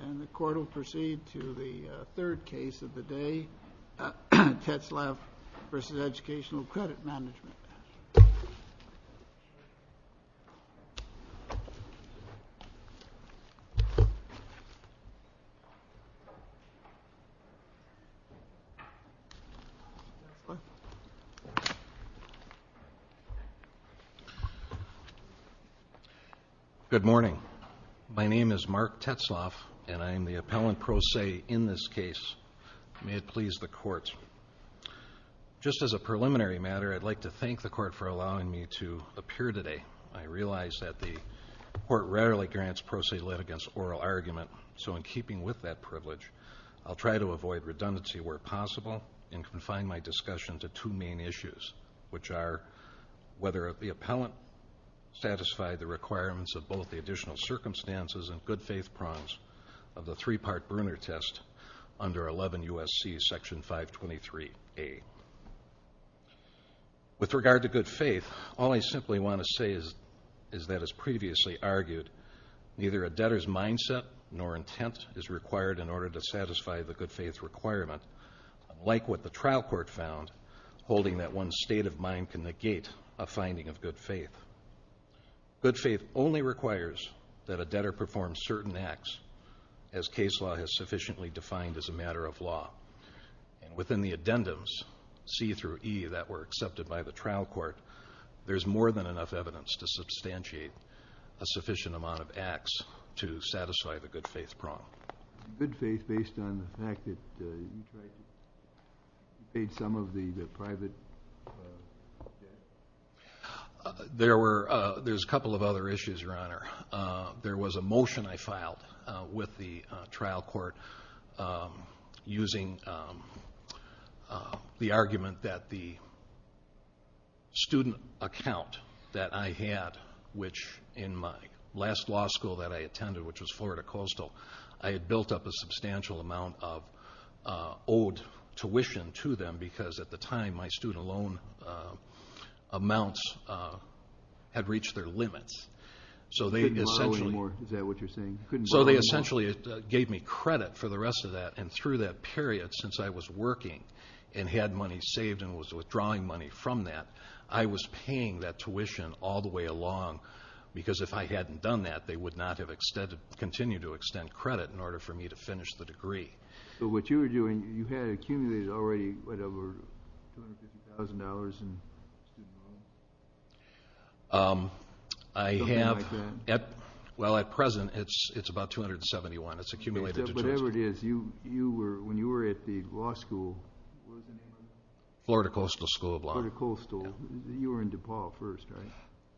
And the court will proceed to the third case of the day, Tetzlaff v. Educational Credit Management. Tetzlaff v. Educational Credit Management Good morning. My name is Mark Tetzlaff, and I am the appellant pro se in this case. May it please the court. Just as a preliminary matter, I'd like to thank the court for allowing me to appear today. I realize that the court rarely grants pro se litigants oral argument, so in keeping with that privilege, I'll try to avoid redundancy where possible and confine my discussion to two main issues, which are whether the appellant satisfied the requirements of both the additional circumstances and good faith prongs of the three-part Brunner test under 11 U.S.C. section 523A. With regard to good faith, all I simply want to say is that, as previously argued, neither a debtor's mindset nor intent is required in order to satisfy the good faith requirement, like what the trial court found holding that one's state of mind can negate a finding of good faith. Good faith only requires that a debtor perform certain acts, as case law has sufficiently defined as a matter of law. Within the addendums, C through E, that were accepted by the trial court, there's more than enough evidence to substantiate a sufficient amount of acts to satisfy the good faith prong. Good faith based on the fact that you paid some of the private debt? There's a couple of other issues, Your Honor. There was a motion I filed with the trial court using the argument that the student account that I had, which in my last law school that I attended, which was Florida Coastal, I had built up a substantial amount of owed tuition to them because at the time my student loan amounts had reached their limits. So they essentially gave me credit for the rest of that, and through that period since I was working and had money saved and was withdrawing money from that, I was paying that tuition all the way along because if I hadn't done that, they would not have continued to extend credit in order for me to finish the degree. So what you were doing, you had accumulated already, whatever, $250,000 in student loans? Something like that. Well, at present it's about $271,000. It's accumulated. Whatever it is, when you were at the law school, where did you go? Florida Coastal School of Law. Florida Coastal. You were in DePaul first, right?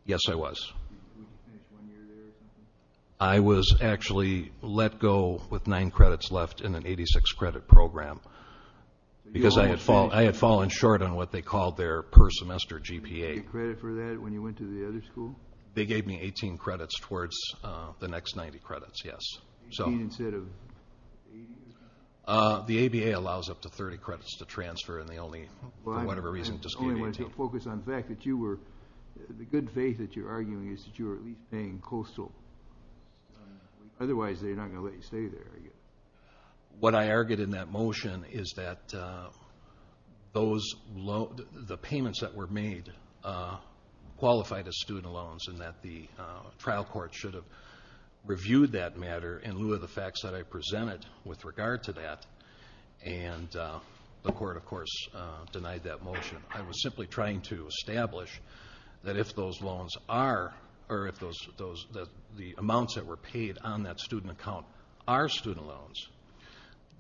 Yes, I was. You spent one year there or something? I was actually let go with nine credits left in an 86-credit program because I had fallen short on what they called their per-semester GPA. Did you get credit for that when you went to the other school? They gave me 18 credits towards the next 90 credits, yes. 18 instead of 80? The ABA allows up to 30 credits to transfer and they only, for whatever reason, just gave me 18. The good faith that you're arguing is that you were at least paying Coastal. Otherwise, they're not going to let you stay there, are you? What I argued in that motion is that the payments that were made qualified as student loans and that the trial court should have reviewed that matter in lieu of the facts that I presented with regard to that, and the court, of course, denied that motion. I was simply trying to establish that if those loans are, or if the amounts that were paid on that student account are student loans,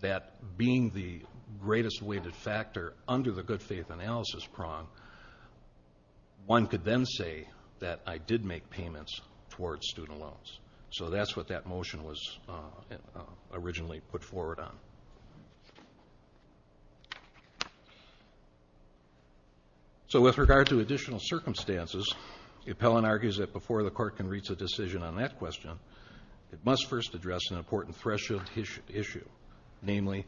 that being the greatest weighted factor under the good faith analysis prong, one could then say that I did make payments towards student loans. So that's what that motion was originally put forward on. So with regard to additional circumstances, the appellant argues that before the court can reach a decision on that question, it must first address an important threshold issue, namely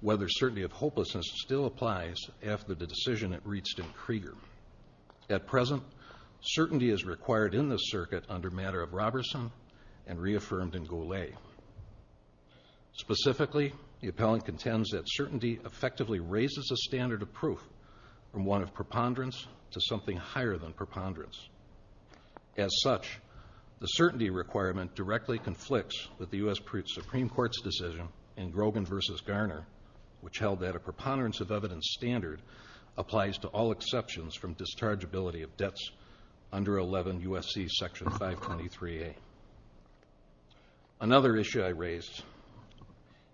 whether certainty of hopelessness still applies after the decision it reached in Krieger. At present, certainty is required in this circuit under matter of Roberson and reaffirmed in Golay. Specifically, the appellant contends that certainty effectively raises a standard of proof from one of preponderance to something higher than preponderance. As such, the certainty requirement directly conflicts with the U.S. Supreme Court's decision in Grogan v. Garner, which held that a preponderance of evidence standard applies to all exceptions from dischargeability of debts under 11 U.S.C. Section 523A. Another issue I raised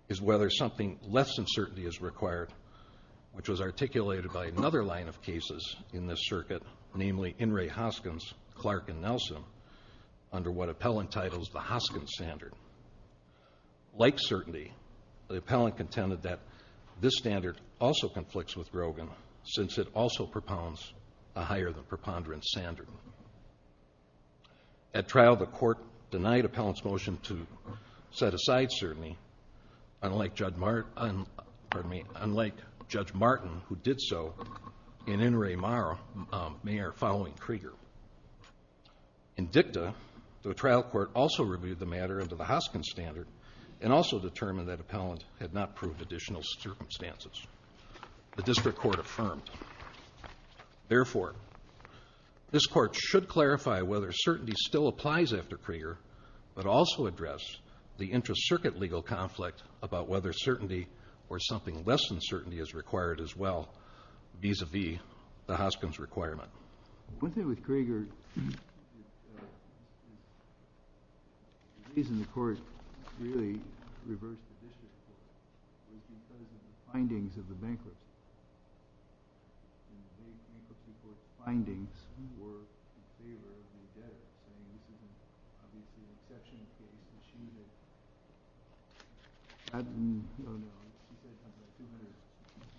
is whether something less than certainty is required, which was articulated by another line of cases in this circuit, namely In re. Hoskins, Clark, and Nelson, under what appellant titles the Hoskins Standard. Like certainty, the appellant contended that this standard also conflicts with Grogan since it also propounds a higher than preponderance standard. At trial, the court denied appellant's motion to set aside certainty, unlike Judge Martin, who did so in In re. Meyer following Krieger. In dicta, the trial court also reviewed the matter under the Hoskins Standard and also determined that appellant had not proved additional circumstances. The district court affirmed. Therefore, this court should clarify whether certainty still applies after Krieger but also address the intra-circuit legal conflict about whether certainty or something less than certainty is required as well, vis-à-vis the Hoskins requirement. One thing with Krieger is the reason the court really reversed the district court was because of the findings of the bankruptcy. And the bankruptcy court's findings were in favor of the debt. And it was given, obviously, an exception to achieve it. I don't know. He said something like 200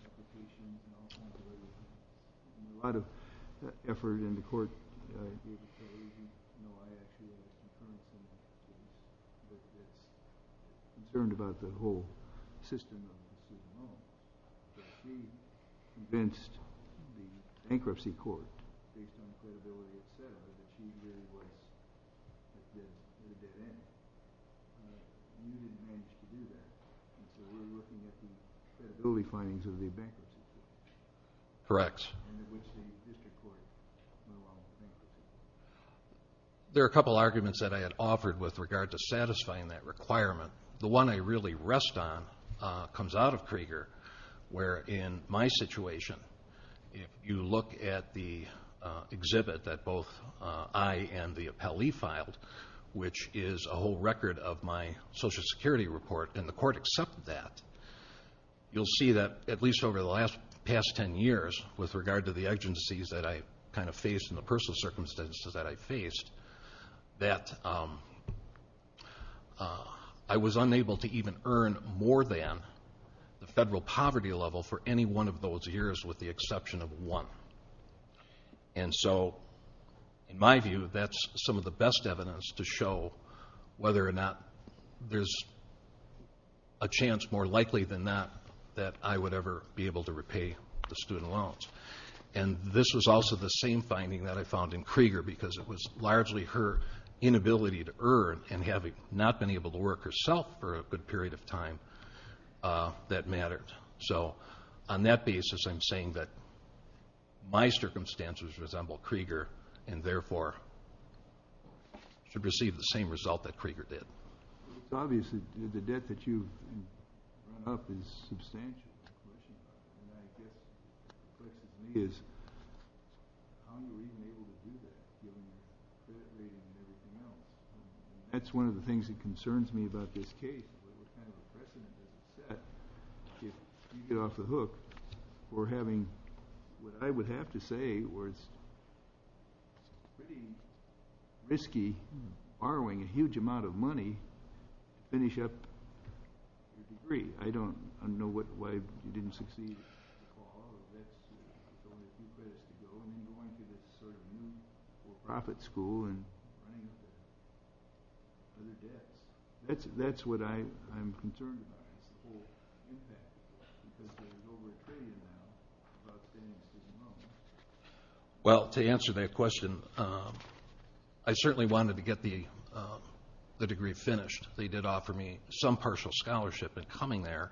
applications and all kinds of other things. A lot of effort in the court. There's a story. You know, I actually had a concern with him. He was concerned about the whole system of receiving loans. But he convinced the bankruptcy court, based on credibility of settlement, that he really would have been able to get in. And he didn't manage to do that. And so we're looking at the credibility findings of the bankruptcy court. Correct. And it was in the district court. There are a couple arguments that I had offered with regard to satisfying that requirement. The one I really rest on comes out of Krieger, where in my situation, if you look at the exhibit that both I and the appellee filed, which is a whole record of my Social Security report, and the court accepted that, you'll see that at least over the last past ten years, with regard to the agencies that I kind of faced and the personal circumstances that I faced, that I was unable to even earn more than the federal poverty level for any one of those years, with the exception of one. And so, in my view, that's some of the best evidence to show whether or not there's a chance more likely than not that I would ever be able to repay the student loans. And this was also the same finding that I found in Krieger, because it was largely her inability to earn and having not been able to work herself for a good period of time that mattered. So, on that basis, I'm saying that my circumstances resemble Krieger and, therefore, should receive the same result that Krieger did. It's obvious that the debt that you've run up is substantial. The question to me is, how are you even able to do that? You haven't even been able to know. That's one of the things that concerns me about this case. It's kind of refreshing that you get off the hook for having what I would have to say was pretty risky borrowing a huge amount of money to finish up your degree. I don't know why you didn't succeed. That's what I'm concerned about, the whole impact of that, because there's over a trillion now of outstanding student loans. Well, to answer that question, I certainly wanted to get the degree finished. They did offer me some partial scholarship in coming there.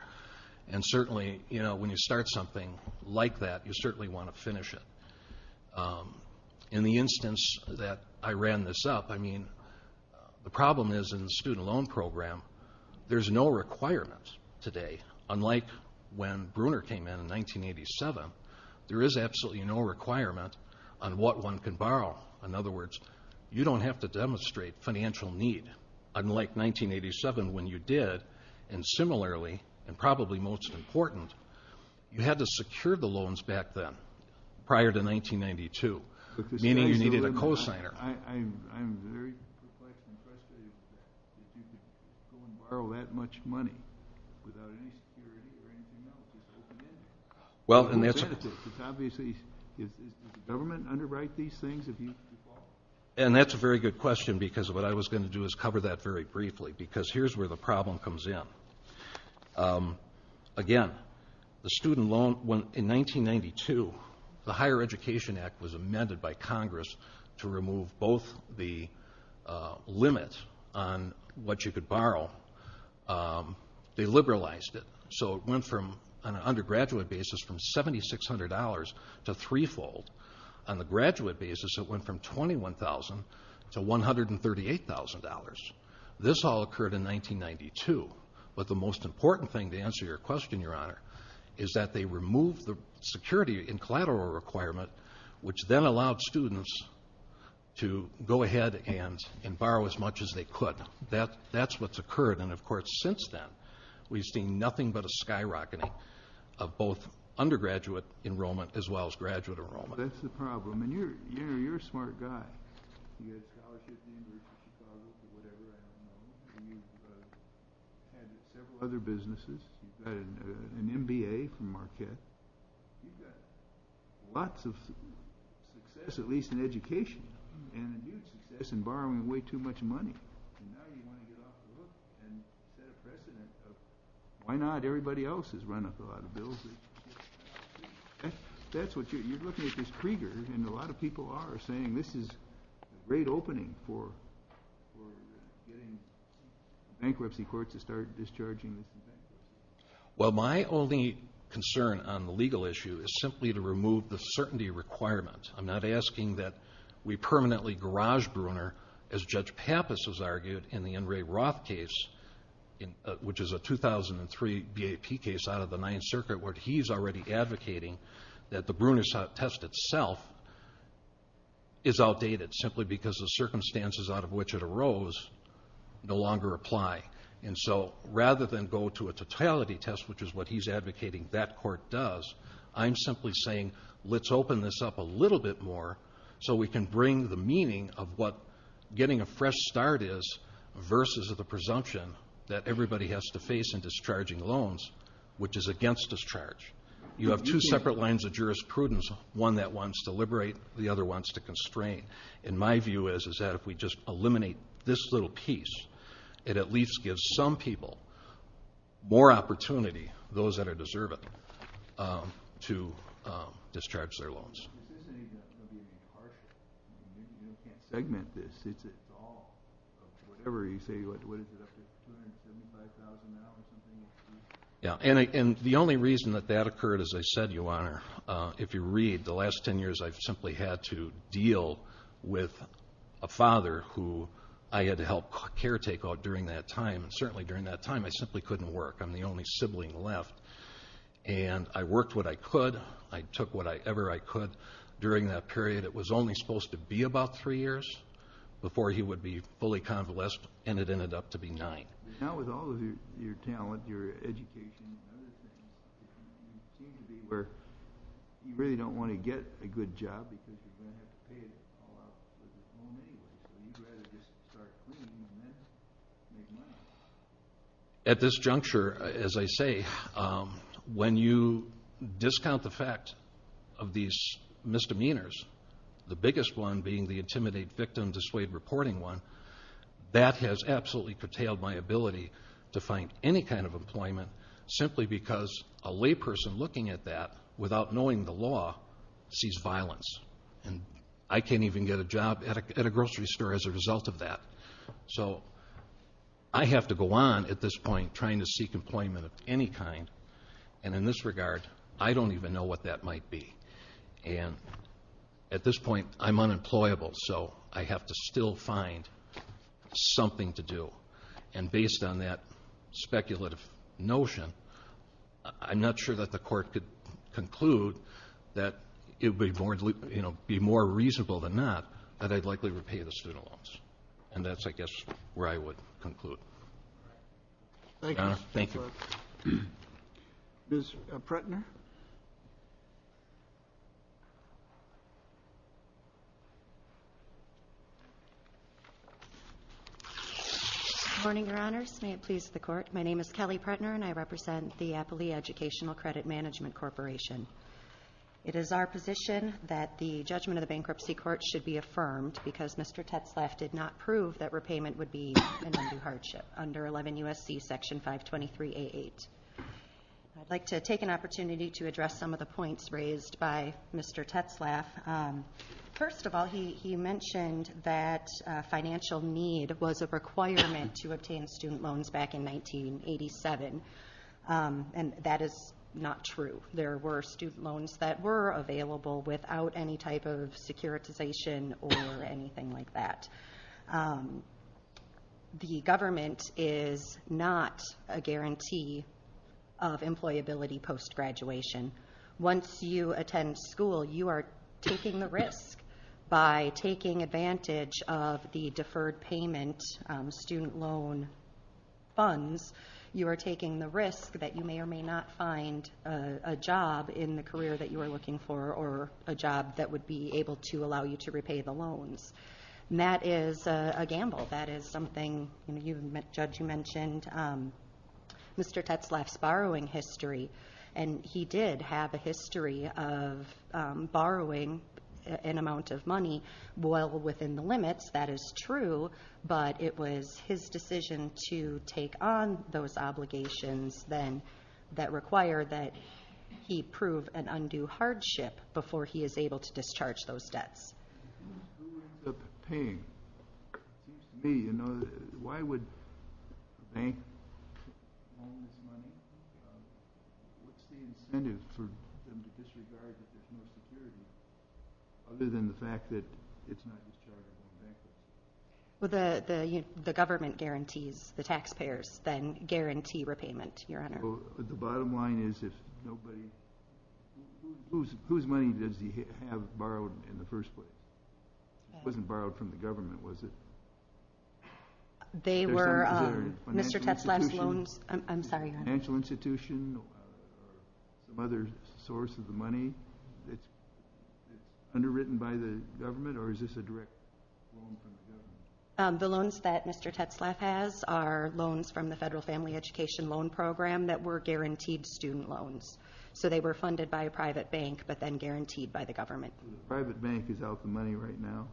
Certainly, when you start something like that, you certainly want to finish it. In the instance that I ran this up, the problem is in the student loan program, there's no requirement today, unlike when Bruner came in in 1987. There is absolutely no requirement on what one can borrow. In other words, you don't have to demonstrate financial need, unlike 1987 when you did. Similarly, and probably most important, you had to secure the loans back then, prior to 1992, meaning you needed a cosigner. I'm very frustrated that you could go and borrow that much money without any security or anything else. It's obviously, does the government underwrite these things? That's a very good question, because what I was going to do is cover that very briefly, because here's where the problem comes in. Again, the student loan, in 1992, the Higher Education Act was amended by Congress to remove both the limit on what you could borrow. They liberalized it, so it went from, on an undergraduate basis, from $7,600 to threefold. On the graduate basis, it went from $21,000 to $138,000. This all occurred in 1992. But the most important thing to answer your question, Your Honor, is that they removed the security and collateral requirement, which then allowed students to go ahead and borrow as much as they could. That's what's occurred. And, of course, since then, we've seen nothing but a skyrocketing of both undergraduate enrollment as well as graduate enrollment. Well, that's the problem. And you're a smart guy. You've had several other businesses. You've got an MBA from Marquette. You've got lots of success, at least in education, and a huge success in borrowing way too much money. Why not? Everybody else has run up a lot of bills. You're looking at this Krieger, and a lot of people are saying this is a great opening for getting bankruptcy courts to start discharging. Well, my only concern on the legal issue is simply to remove the certainty requirement. I'm not asking that we permanently garage-bruner, as Judge Pappas has argued in the N. Ray Roth case, which is a 2003 BAP case out of the Ninth Circuit, where he's already advocating that the bruner test itself is outdated simply because the circumstances out of which it arose no longer apply. And so rather than go to a totality test, which is what he's advocating that court does, I'm simply saying let's open this up a little bit more so we can bring the meaning of what getting a fresh start is versus the presumption that everybody has to face in discharging loans, which is against discharge. You have two separate lines of jurisprudence, one that wants to liberate, the other wants to constrain. And my view is that if we just eliminate this little piece, it at least gives some people more opportunity, those that are deserving, to discharge their loans. This isn't even going to be impartial. We can't segment this. It's all, whatever you say, what is it up to, $275,000? And the only reason that that occurred, as I said, Your Honor, if you read the last ten years I've simply had to deal with a father who I had helped caretake during that time, and certainly during that time I simply couldn't work. I'm the only sibling left. And I worked what I could. I took whatever I could during that period. It was only supposed to be about three years before he would be fully convalesced, and it ended up to be nine. Now with all of your talent, your education, you really don't want to get a good job because you're going to have to pay it all off. You'd rather just start cleaning than make money. At this juncture, as I say, when you discount the fact of these misdemeanors, the biggest one being the intimidate victim, dissuade reporting one, that has absolutely curtailed my ability to find any kind of employment simply because a layperson looking at that without knowing the law sees violence. And I can't even get a job at a grocery store as a result of that. So I have to go on at this point trying to seek employment of any kind, and in this regard I don't even know what that might be. And at this point I'm unemployable, so I have to still find something to do. And based on that speculative notion, I'm not sure that the court could conclude that it would be more reasonable than not that I'd likely repay the student loans. And that's, I guess, where I would conclude. Your Honor, thank you. Ms. Pretner? Good morning, Your Honors. May it please the Court, my name is Kelly Pretner and I represent the Appley Educational Credit Management Corporation. It is our position that the judgment of the bankruptcy court should be affirmed because Mr. Tetzlaff did not prove that repayment would be an undue hardship under 11 U.S.C. Section 523A8. I'd like to take an opportunity to address some of the points raised by Mr. Tetzlaff. First of all, he mentioned that financial need was a requirement to obtain student loans back in 1987, and that is not true. There were student loans that were available without any type of securitization or anything like that. The government is not a guarantee of employability post-graduation. Once you attend school, you are taking the risk. By taking advantage of the deferred payment student loan funds, you are taking the risk that you may or may not find a job in the career that you are looking for or a job that would be able to allow you to repay the loans. That is a gamble. That is something, Judge, you mentioned Mr. Tetzlaff's borrowing history, and he did have a history of borrowing an amount of money well within the limits. That is true, but it was his decision to take on those obligations that require that he prove an undue hardship before he is able to discharge those debts. Who ends up paying? Why would the bank own this money? What is the incentive for them to disregard that there is no security other than the fact that it is not dischargeable? The government guarantees. The taxpayers then guarantee repayment, Your Honor. The bottom line is, whose money does he have borrowed in the first place? It wasn't borrowed from the government, was it? They were Mr. Tetzlaff's loans. I'm sorry, Your Honor. Financial institutions or some other source of the money that is underwritten by the government, or is this a direct loan from the government? The loans that Mr. Tetzlaff has are loans from the Federal Family Education Loan Program that were guaranteed student loans. So they were funded by a private bank, but then guaranteed by the government. The private bank is out the money right now.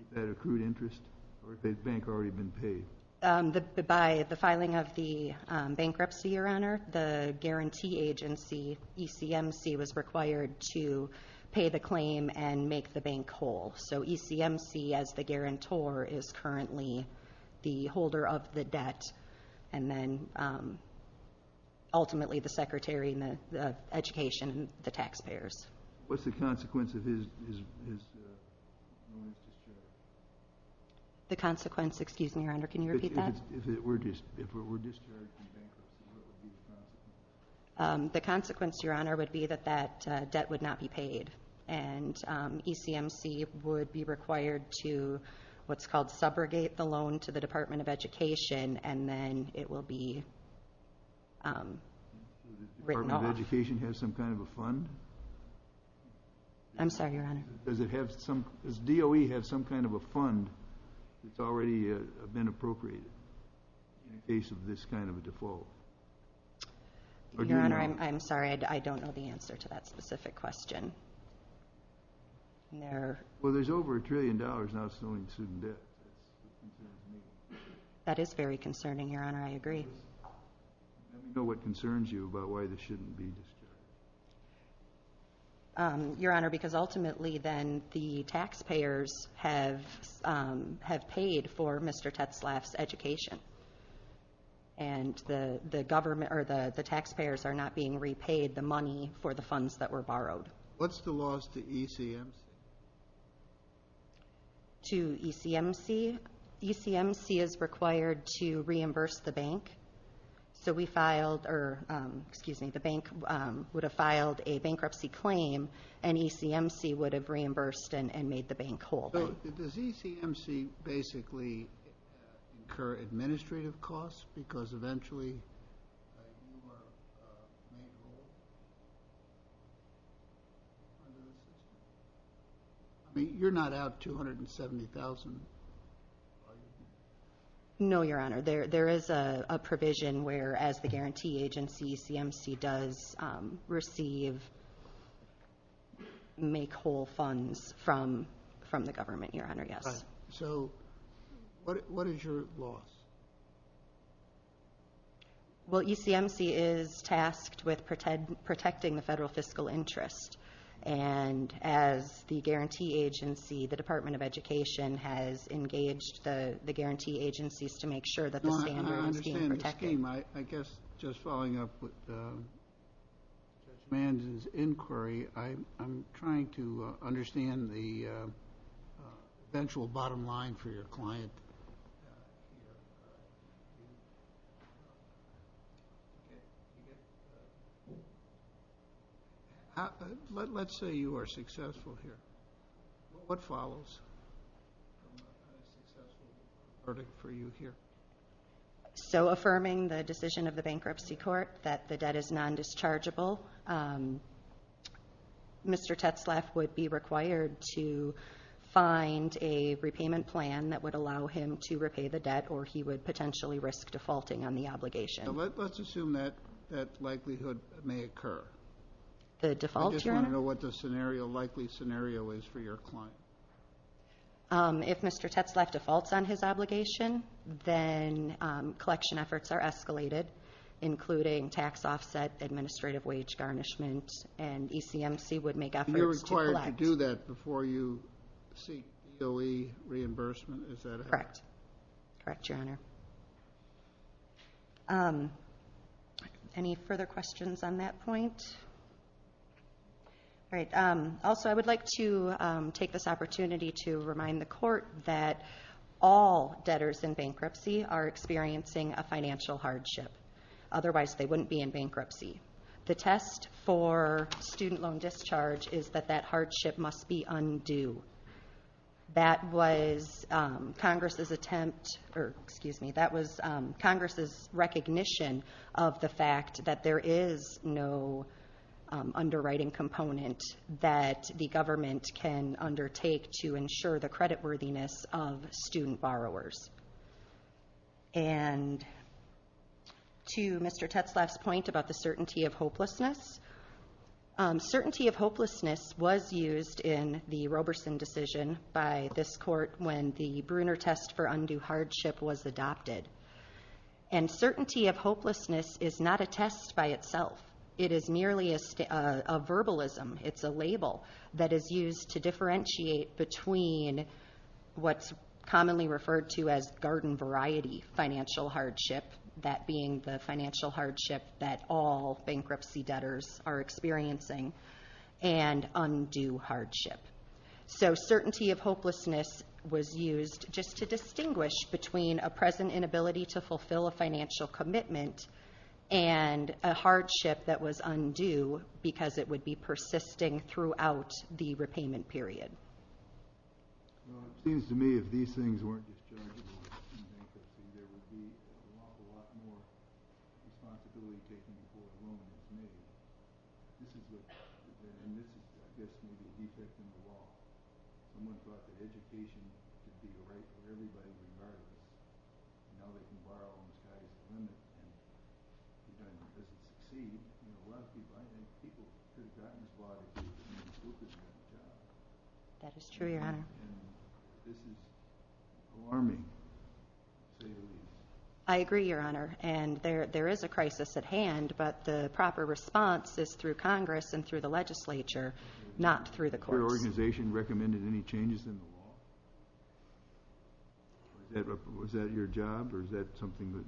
Is that accrued interest, or has the bank already been paid? By the filing of the bankruptcy, Your Honor, the guarantee agency, ECMC, was required to pay the claim and make the bank whole. So ECMC, as the guarantor, is currently the holder of the debt, and then ultimately the secretary and the education and the taxpayers. What's the consequence of his loans? The consequence, excuse me, Your Honor, can you repeat that? If it were discharged to the bank, what would be the consequence? The consequence, Your Honor, would be that that debt would not be paid, and ECMC would be required to what's called subrogate the loan to the Department of Education, and then it will be written off. Does the Department of Education have some kind of a fund? I'm sorry, Your Honor. Does DOE have some kind of a fund that's already been appropriated in the case of this kind of a default? Your Honor, I'm sorry. I don't know the answer to that specific question. Well, there's over a trillion dollars in outstanding student debt. That is very concerning, Your Honor. I agree. I don't know what concerns you about why this shouldn't be discussed. Your Honor, because ultimately then the taxpayers have paid for Mr. Tetzlaff's education, and the taxpayers are not being repaid the money for the funds that were borrowed. What's the laws to ECMC? To ECMC? ECMC is required to reimburse the bank. So we filed, or excuse me, the bank would have filed a bankruptcy claim, and ECMC would have reimbursed and made the bank whole. Does ECMC basically incur administrative costs? Because eventually you're not out $270,000. No, Your Honor. There is a provision where, as the guarantee agency, does receive make-whole funds from the government, Your Honor, yes. Right. So what is your law? Well, ECMC is tasked with protecting the federal fiscal interest. And as the guarantee agency, the Department of Education has engaged the guarantee agencies to make sure that the standards are being protected. I guess just following up with Mr. Manson's inquiry, I'm trying to understand the eventual bottom line for your client. Let's say you are successful here. What follows? So affirming the decision of the bankruptcy court that the debt is non-dischargeable, Mr. Tetzlaff would be required to find a repayment plan that would allow him to repay the debt, or he would potentially risk defaulting on the obligation. Let's assume that likelihood may occur. The default, Your Honor? I just want to know what the likely scenario is for your client. If Mr. Tetzlaff defaults on his obligation, then collection efforts are escalated, including tax offset, administrative wage garnishment, and ECMC would make efforts to collect. You're required to do that before you seek DOE reimbursement. Is that correct? Correct. Correct, Your Honor. Thank you. Any further questions on that point? All right. Also, I would like to take this opportunity to remind the court that all debtors in bankruptcy are experiencing a financial hardship. Otherwise, they wouldn't be in bankruptcy. The test for student loan discharge is that that hardship must be undue. That was Congress's attempt, or excuse me, that was Congress's recognition of the fact that there is no underwriting component that the government can undertake to ensure the creditworthiness of student borrowers. And to Mr. Tetzlaff's point about the certainty of hopelessness, certainty of hopelessness was used in the Roberson decision by this court when the Bruner test for undue hardship was adopted. And certainty of hopelessness is not a test by itself. It is merely a verbalism. It's a label that is used to differentiate between what's commonly referred to as garden variety financial hardship, that being the financial hardship that all bankruptcy debtors are experiencing, and undue hardship. So certainty of hopelessness was used just to distinguish between a present inability to fulfill a financial commitment and a hardship that was undue because it would be persisting throughout the repayment period. Well, it seems to me if these things weren't discharged, there would be a lot, a lot more responsibility taken before the ruling committee. This is just, and this is just maybe the resetting of the law. Someone thought that education should be the right for everybody to study, and now they can borrow on the side of the government. I agree, Your Honor, and there is a crisis at hand, but the proper response is through Congress and through the legislature, not through the courts. Was your organization recommended any changes in the law? Was that your job or is that something that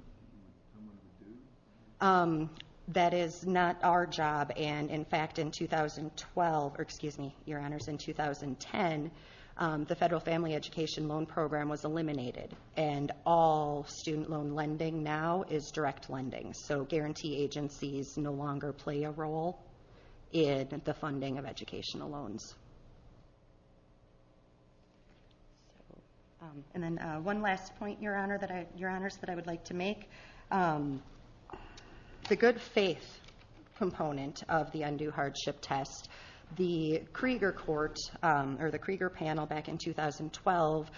someone else did? That is not our job, and, in fact, in 2012, or excuse me, Your Honors, in 2010, the Federal Family Education Loan Program was eliminated, and all student loan lending now is direct lending. So guarantee agencies no longer play a role in the funding of educational loans. And then one last point, Your Honors, that I would like to make. The good faith component of the undue hardship test, the Krieger Court or the Krieger panel back in 2012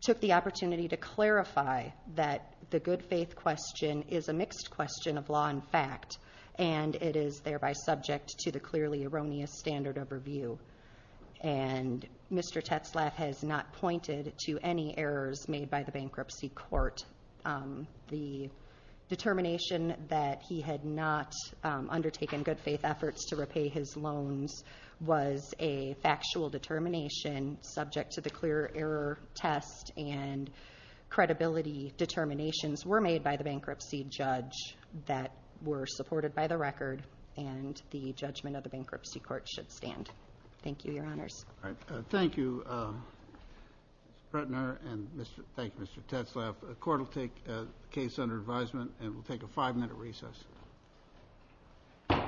took the opportunity to clarify that the good faith question is a mixed question of law and fact, and it is thereby subject to the clearly erroneous standard of review. And Mr. Tetzlaff has not pointed to any errors made by the bankruptcy court. The determination that he had not undertaken good faith efforts to repay his loans was a factual determination subject to the clear error test, and credibility determinations were made by the bankruptcy judge that were supported by the record, and the judgment of the bankruptcy court should stand. Thank you, Your Honors. All right. Thank you, Mr. Pretner, and thank you, Mr. Tetzlaff. The Court will take the case under advisement, and we'll take a five-minute recess.